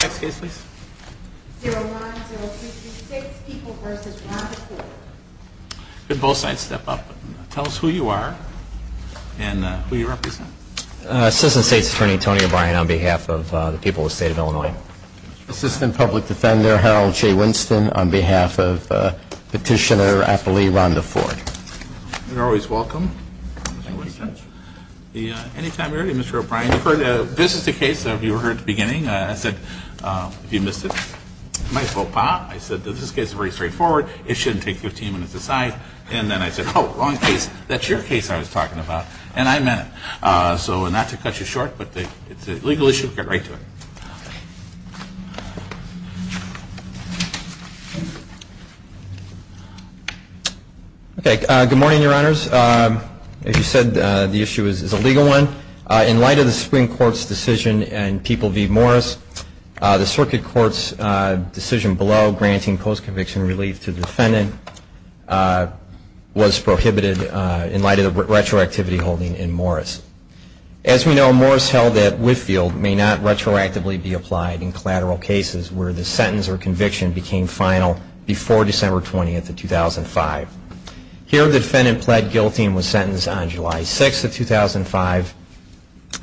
Next case please. 010336 People v. Rhonda Ford. Could both sides step up. Tell us who you are and who you represent. Assistant State's Attorney Tony O'Brien on behalf of the people of the state of Illinois. Assistant Public Defender Harold J. Winston on behalf of Petitioner Appali Rhonda Ford. You're always welcome. Anytime you're ready, Mr. O'Brien. This is the case that you heard at the beginning. I said, if you missed it, might as well pop. I said that this case is very straightforward. It shouldn't take 15 minutes to decide. And then I said, oh, wrong case. That's your case I was talking about. And I meant it. So not to cut you short, but it's a legal issue. Get right to it. Okay. Good morning, Your Honors. As you said, the issue is a legal one. In light of the Supreme Court's decision in People v. Morris, the circuit court's decision below granting post-conviction relief to the defendant was prohibited in light of the retroactivity holding in Morris. As we know, Morris held that Whitfield may not retroactively be applied in collateral cases where the sentence or conviction became final before December 20th of 2005. Here, the defendant pled guilty and was sentenced on July 6th of 2005.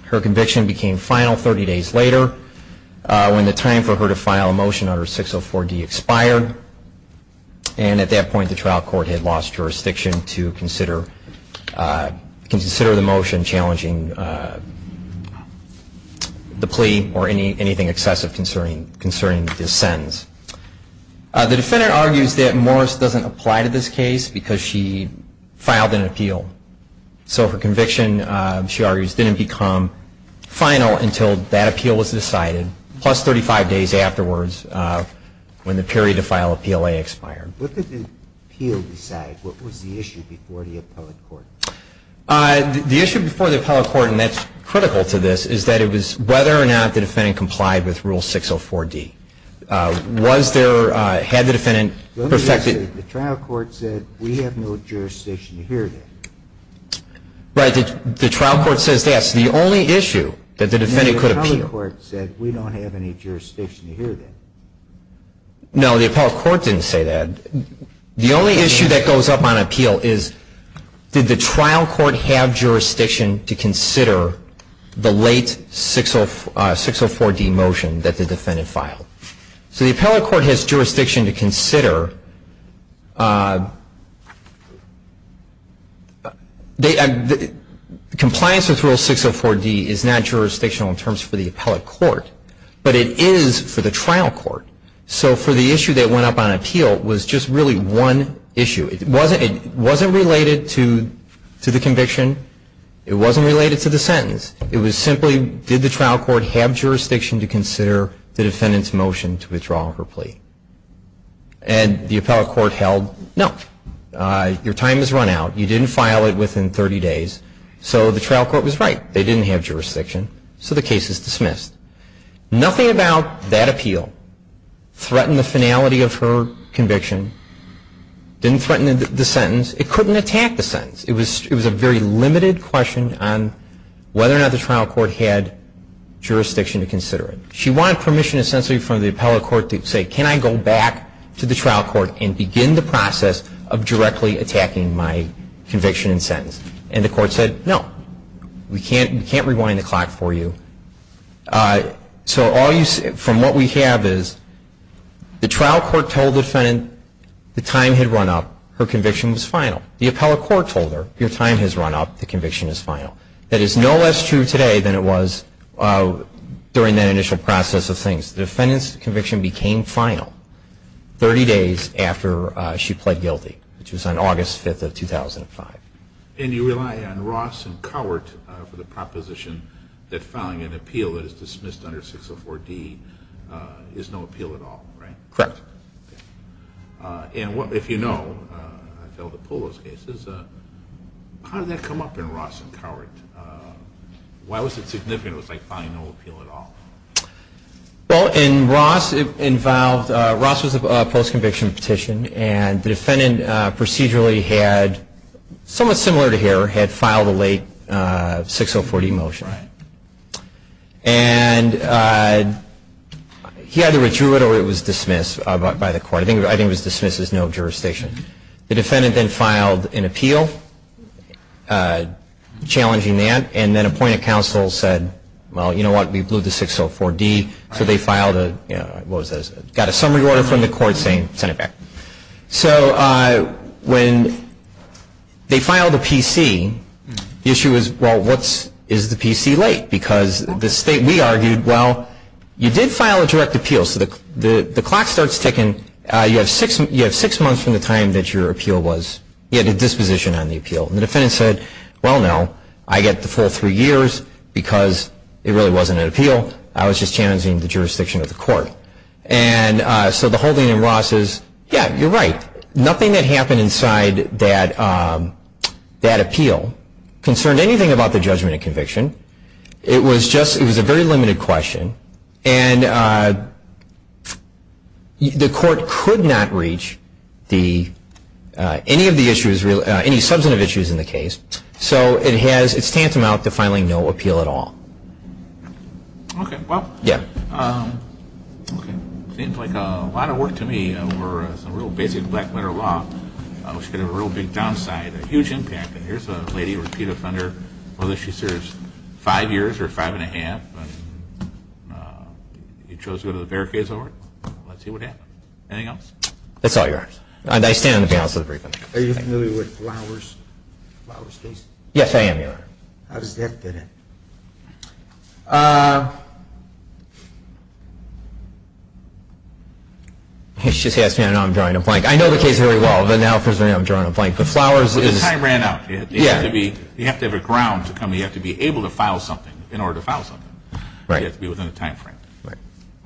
Her conviction became final 30 days later when the time for her to file a motion under 604D expired. And at that point, the trial court had lost jurisdiction to consider the motion challenging the plea or anything excessive concerning this sentence. The defendant argues that Morris doesn't apply to this case because she filed an appeal. So her conviction, she argues, didn't become final until that appeal was decided, plus 35 days afterwards when the period to file an appeal expired. What did the appeal decide? What was the issue before the appellate court? The issue before the appellate court, and that's critical to this, is that it was whether or not the defendant complied with Rule 604D. Was there, had the defendant perfected? The trial court said, we have no jurisdiction to hear that. Right. The trial court says that. That's the only issue that the defendant could appeal. The appellate court said, we don't have any jurisdiction to hear that. No, the appellate court didn't say that. The only issue that goes up on appeal is, did the trial court have jurisdiction to consider the late 604D motion that the defendant filed? So the appellate court has jurisdiction to consider. Compliance with Rule 604D is not jurisdictional in terms for the appellate court, but it is for the trial court. So for the issue that went up on appeal was just really one issue. It wasn't related to the conviction. It wasn't related to the sentence. It was simply, did the trial court have jurisdiction to consider the defendant's motion to withdraw her plea? And the appellate court held, no. Your time has run out. You didn't file it within 30 days. So the trial court was right. They didn't have jurisdiction. So the case is dismissed. Nothing about that appeal threatened the finality of her conviction, didn't threaten the sentence. It couldn't attack the sentence. It was a very limited question on whether or not the trial court had jurisdiction to consider it. She wanted permission essentially from the appellate court to say, can I go back to the trial court and begin the process of directly attacking my conviction and sentence? And the court said, no. We can't rewind the clock for you. So from what we have is the trial court told the defendant the time had run up. Her conviction was final. The appellate court told her, your time has run up. The conviction is final. That is no less true today than it was during that initial process of things. The defendant's conviction became final 30 days after she pled guilty, which was on August 5th of 2005. And you rely on Ross and Cowart for the proposition that filing an appeal that is dismissed under 604D is no appeal at all, right? Correct. And if you know, I failed to pull those cases, how did that come up in Ross and Cowart? Why was it significant? It was like filing no appeal at all. Well, in Ross, it involved, Ross was a post-conviction petition, and the defendant procedurally had, somewhat similar to here, had filed a late 604D motion. Right. And he either withdrew it or it was dismissed by the court. I think it was dismissed as no jurisdiction. The defendant then filed an appeal challenging that, and then appointed counsel said, well, you know what, we blew the 604D. So they filed a, what was that, got a summary order from the court saying send it back. So when they filed a PC, the issue is, well, what's, is the PC late? Because the state, we argued, well, you did file a direct appeal. So the clock starts ticking. You have six months from the time that your appeal was, you had a disposition on the appeal. And the defendant said, well, no, I get the full three years because it really wasn't an appeal. I was just challenging the jurisdiction of the court. And so the holding in Ross is, yeah, you're right. Nothing that happened inside that appeal concerned anything about the judgment of conviction. It was just, it was a very limited question. And the court could not reach the, any of the issues, any substantive issues in the case. So it stands them out to filing no appeal at all. Okay, well. Yeah. Okay. Seems like a lot of work to me over some real basic black matter law. Which could have a real big downside, a huge impact. And here's a lady, repeat offender, whether she serves five years or five and a half. And you chose to go to the barricades over it. Let's see what happens. Anything else? That's all yours. And I stand on the balance of the brief. Are you familiar with Flowers? Flowers case? Yes, I am, Your Honor. How does that fit in? She just asked me, I know I'm drawing a blank. I know the case very well, but now presumably I'm drawing a blank. The Flowers is. The time ran out. Yeah. You have to have a ground to come. You have to be able to file something in order to file something. Right. You have to be within the time frame. Right.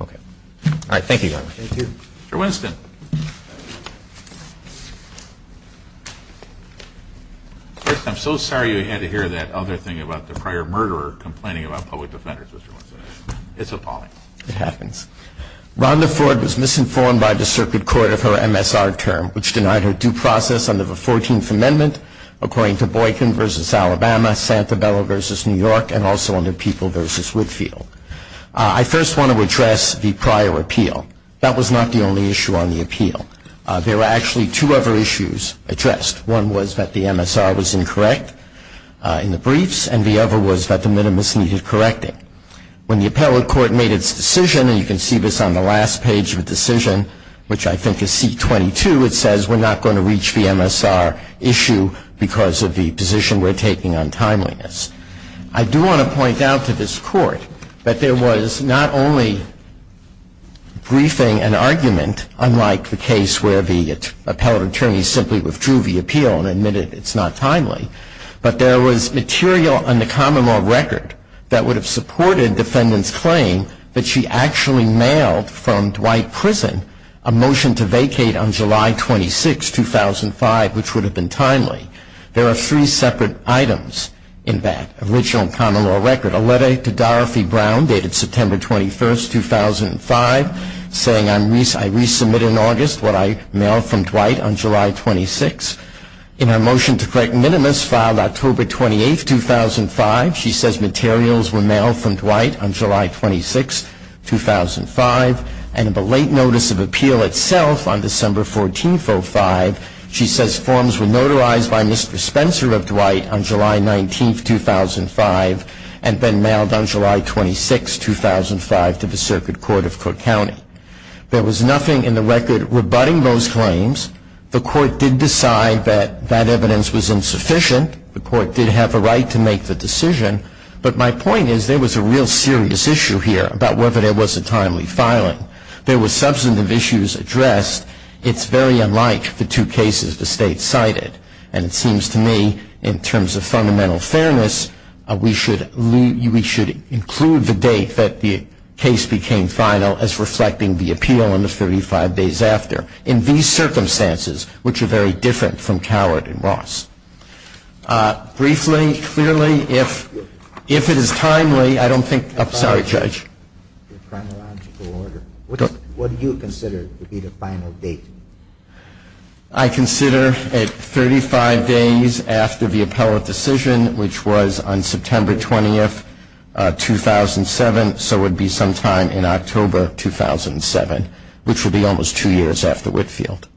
Okay. All right, thank you, Your Honor. Thank you. Mr. Winston. I'm so sorry you had to hear that other thing about the prior murderer complaining about public defenders, Mr. Winston. It's appalling. It happens. Rhonda Ford was misinformed by the circuit court of her MSR term, which denied her due process under the 14th Amendment, according to Boykin v. Alabama, Santabella v. New York, and also under People v. Whitfield. That was not the only issue on the case. There were actually two other issues addressed. One was that the MSR was incorrect in the briefs, and the other was that the minimus needed correcting. When the appellate court made its decision, and you can see this on the last page of the decision, which I think is C-22, it says we're not going to reach the MSR issue because of the position we're taking on timeliness. I do want to point out to this Court that there was not only briefing and not like the case where the appellate attorney simply withdrew the appeal and admitted it's not timely, but there was material on the common law record that would have supported defendant's claim that she actually mailed from Dwight Prison a motion to vacate on July 26, 2005, which would have been timely. There are three separate items in that original common law record, a letter to Dorothy Brown dated September 21, 2005, saying I resubmit in August what I mailed from Dwight on July 26. In her motion to correct minimus filed October 28, 2005, she says materials were mailed from Dwight on July 26, 2005, and in the late notice of appeal itself on December 14, 2005, she says forms were notarized by Mr. Spencer of Dwight on July 19, 2005, and then mailed on July 26, 2005, to the Circuit Court of Cook County. There was nothing in the record rebutting those claims. The Court did decide that that evidence was insufficient. The Court did have a right to make the decision, but my point is there was a real serious issue here about whether there was a timely filing. There were substantive issues addressed. It's very unlike the two cases the State cited, and it seems to me, in terms of fundamental fairness, we should include the date that the case became final as reflecting the appeal on the 35 days after. In these circumstances, which are very different from Coward and Ross. Briefly, clearly, if it is timely, I don't think, I'm sorry, Judge. The chronological order. What do you consider to be the final date? I consider it 35 days after the appellate decision, which was on September 20, 2007, so it would be sometime in October 2007, which would be almost two years after Whitfield.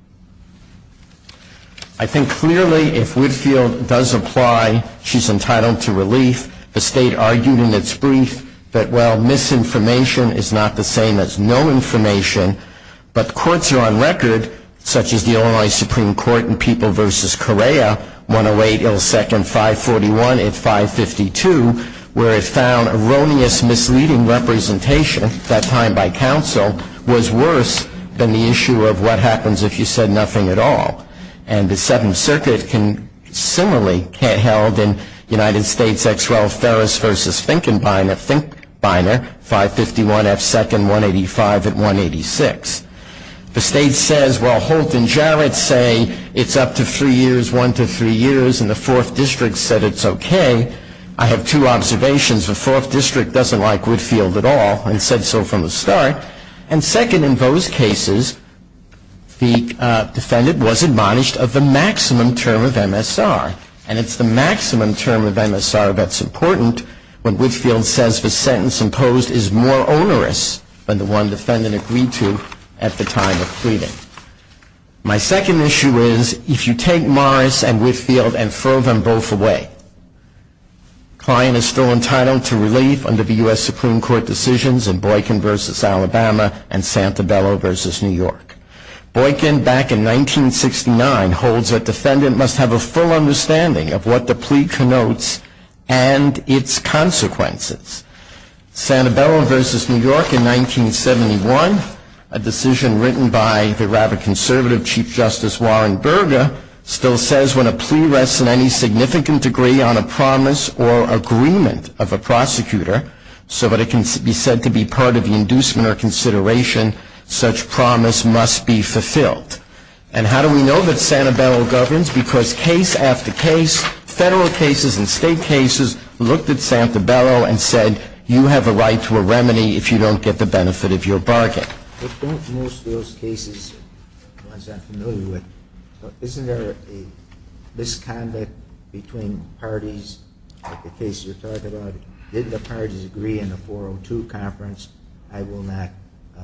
I think clearly if Whitfield does apply, she's entitled to relief. The State argued in its brief that, well, misinformation is not the same as no information, but courts are on record, such as the Illinois Supreme Court in People v. Correa, 108 ill second 541 at 552, where it found erroneous misleading representation, that time by counsel, was worse than the issue of what happens if you said nothing at all. And the Seventh Circuit similarly held in United States X. The State says, well, Holt and Jarrett say it's up to three years, one to three years, and the Fourth District said it's okay. I have two observations. The Fourth District doesn't like Whitfield at all and said so from the start. And second, in those cases, the defendant was admonished of the maximum term of MSR, and it's the maximum term of MSR that's important when Whitfield says the defendant agreed to at the time of pleading. My second issue is, if you take Morris and Whitfield and throw them both away, Klein is still entitled to relief under the U.S. Supreme Court decisions in Boykin v. Alabama and Santabello v. New York. Boykin, back in 1969, holds that defendant must have a full understanding of what the plea connotes and its consequences. Santabello v. New York in 1971, a decision written by the rather conservative Chief Justice Warren Burger, still says when a plea rests in any significant degree on a promise or agreement of a prosecutor so that it can be said to be part of the inducement or consideration, such promise must be fulfilled. And how do we know that Santabello governs? Because case after case, federal cases and state cases, looked at Santabello and said you have a right to a remedy if you don't get the benefit of your bargain. But don't most of those cases, the ones I'm familiar with, isn't there a misconduct between parties? Like the case you're talking about, didn't the parties agree in the 402 conference, I will not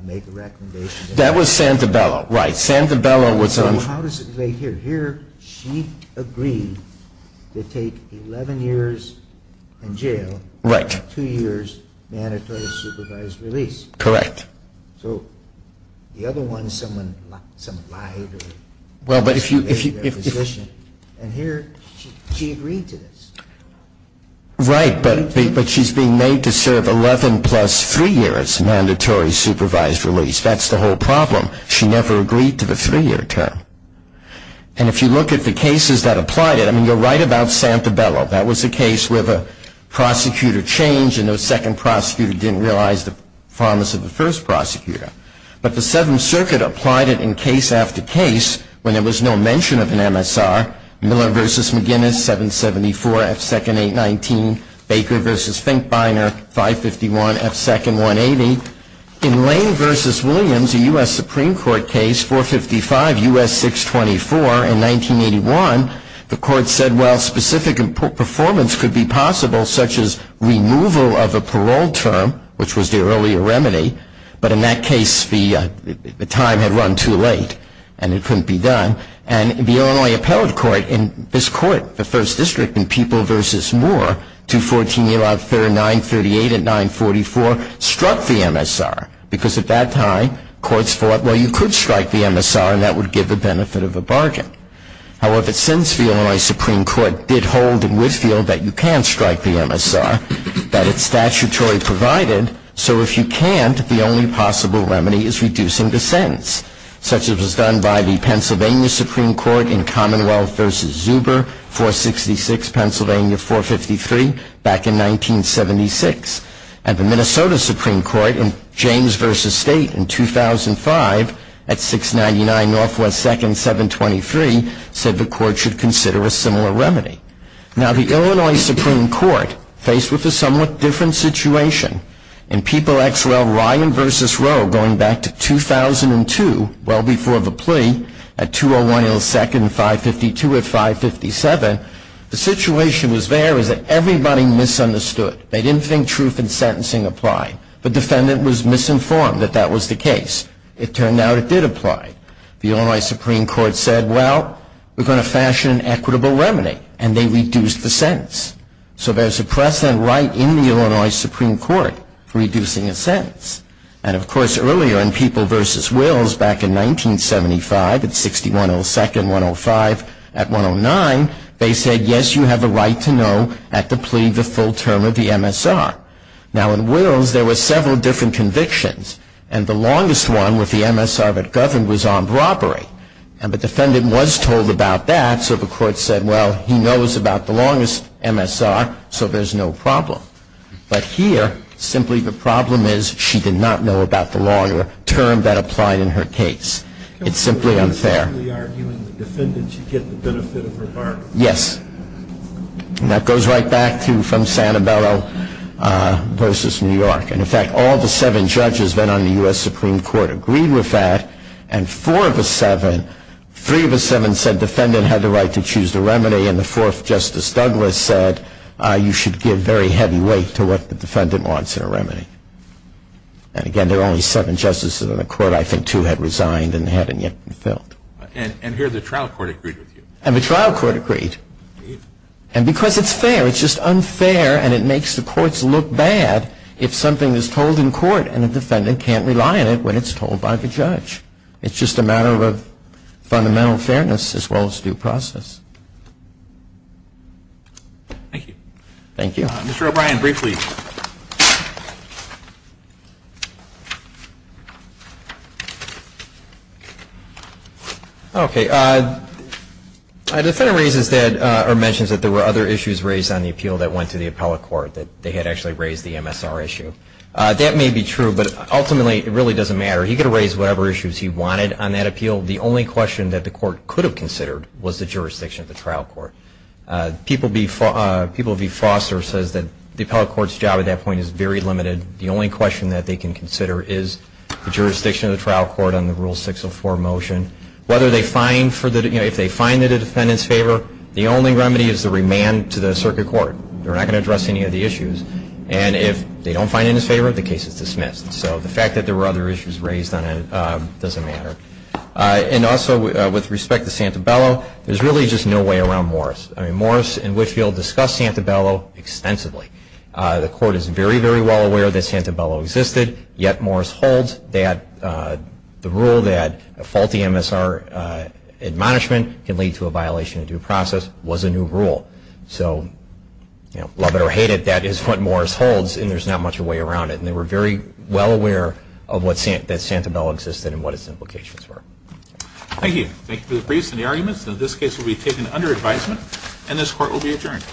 make a recommendation. That was Santabello. Right. Santabello was on. So how does it relate here? Here she agreed to take 11 years in jail. Right. Two years mandatory supervised release. Correct. So the other one, someone lied. Well, but if you. And here she agreed to this. Right. But she's being made to serve 11 plus three years mandatory supervised release. That's the whole problem. She never agreed to the three year term. And if you look at the cases that applied it. I mean, you're right about Santabello. That was a case where the prosecutor changed and the second prosecutor didn't realize the promise of the first prosecutor. But the Seventh Circuit applied it in case after case when there was no mention of an MSR. Miller versus McGinnis, 774, F2nd 819. Baker versus Finkbeiner, 551, F2nd 180. In Lane versus Williams, a U.S. Supreme Court case, 455, U.S. 624. In 1981, the court said, well, specific performance could be possible such as removal of a parole term, which was the earlier remedy. But in that case, the time had run too late and it couldn't be done. And the Illinois Appellate Court in this court, the First District, in People versus Moore, 214, 938 and 944, struck the MSR. Because at that time, courts thought, well, you could strike the MSR and that would give the benefit of a bargain. However, Sinsville, Illinois Supreme Court, did hold in Whitfield that you can strike the MSR, that it's statutory provided. So if you can't, the only possible remedy is reducing the sentence. Such as was done by the Pennsylvania Supreme Court in Commonwealth versus Zuber, 466, Pennsylvania, 453, back in 1976. And the Minnesota Supreme Court in James versus State in 2005 at 699, Northwest 2nd, 723, said the court should consider a similar remedy. Now, the Illinois Supreme Court faced with a somewhat different situation. In People X. Well, Ryan versus Roe, going back to 2002, well before the plea, at 201 L 2nd, 552 at 557, the situation was there was that everybody misunderstood. They didn't think truth in sentencing applied. The defendant was misinformed that that was the case. It turned out it did apply. The Illinois Supreme Court said, well, we're going to fashion an equitable remedy. And they reduced the sentence. So there's a precedent right in the Illinois Supreme Court for reducing a sentence. And, of course, earlier in People versus Wills, back in 1975 at 6102nd, 105 at 109, they said, yes, you have a right to know at the plea the full term of the MSR. Now, in Wills, there were several different convictions. And the longest one with the MSR that governed was armed robbery. And the defendant was told about that, so the court said, well, he knows about the longest MSR, so there's no problem. But here, simply the problem is she did not know about the longer term that applied in her case. It's simply unfair. You're simply arguing the defendant should get the benefit of her bargain. Yes. And that goes right back to from Sanibello versus New York. And, in fact, all the seven judges then on the U.S. Supreme Court agreed with that. And four of the seven, three of the seven said defendant had the right to choose the remedy. And the fourth, Justice Douglas, said you should give very heavy weight to what the defendant wants in a remedy. And, again, there were only seven justices in the court. I think two had resigned and hadn't yet been filled. And here the trial court agreed with you. And the trial court agreed. And because it's fair. It's just unfair, and it makes the courts look bad if something is told in court It's just a matter of fundamental fairness as well as due process. Thank you. Thank you. Mr. O'Brien, briefly. Okay. The defendant mentions that there were other issues raised on the appeal that went to the appellate court, that they had actually raised the MSR issue. That may be true, but ultimately it really doesn't matter. He could have raised whatever issues he wanted on that appeal. The only question that the court could have considered was the jurisdiction of the trial court. People v. Foster says that the appellate court's job at that point is very limited. The only question that they can consider is the jurisdiction of the trial court on the Rule 604 motion. Whether they find for the, you know, if they find it in the defendant's favor, the only remedy is the remand to the circuit court. They're not going to address any of the issues. And if they don't find it in his favor, the case is dismissed. So the fact that there were other issues raised on it doesn't matter. And also with respect to Santabello, there's really just no way around Morris. I mean, Morris and Whitfield discussed Santabello extensively. The court is very, very well aware that Santabello existed, yet Morris holds that the rule that a faulty MSR admonishment can lead to a violation of due process was a new rule. So, you know, love it or hate it, that is what Morris holds, and there's not much a way around it. And they were very well aware that Santabello existed and what its implications were. Thank you. Thank you for the briefs and the arguments. And this case will be taken under advisement, and this court will be adjourned.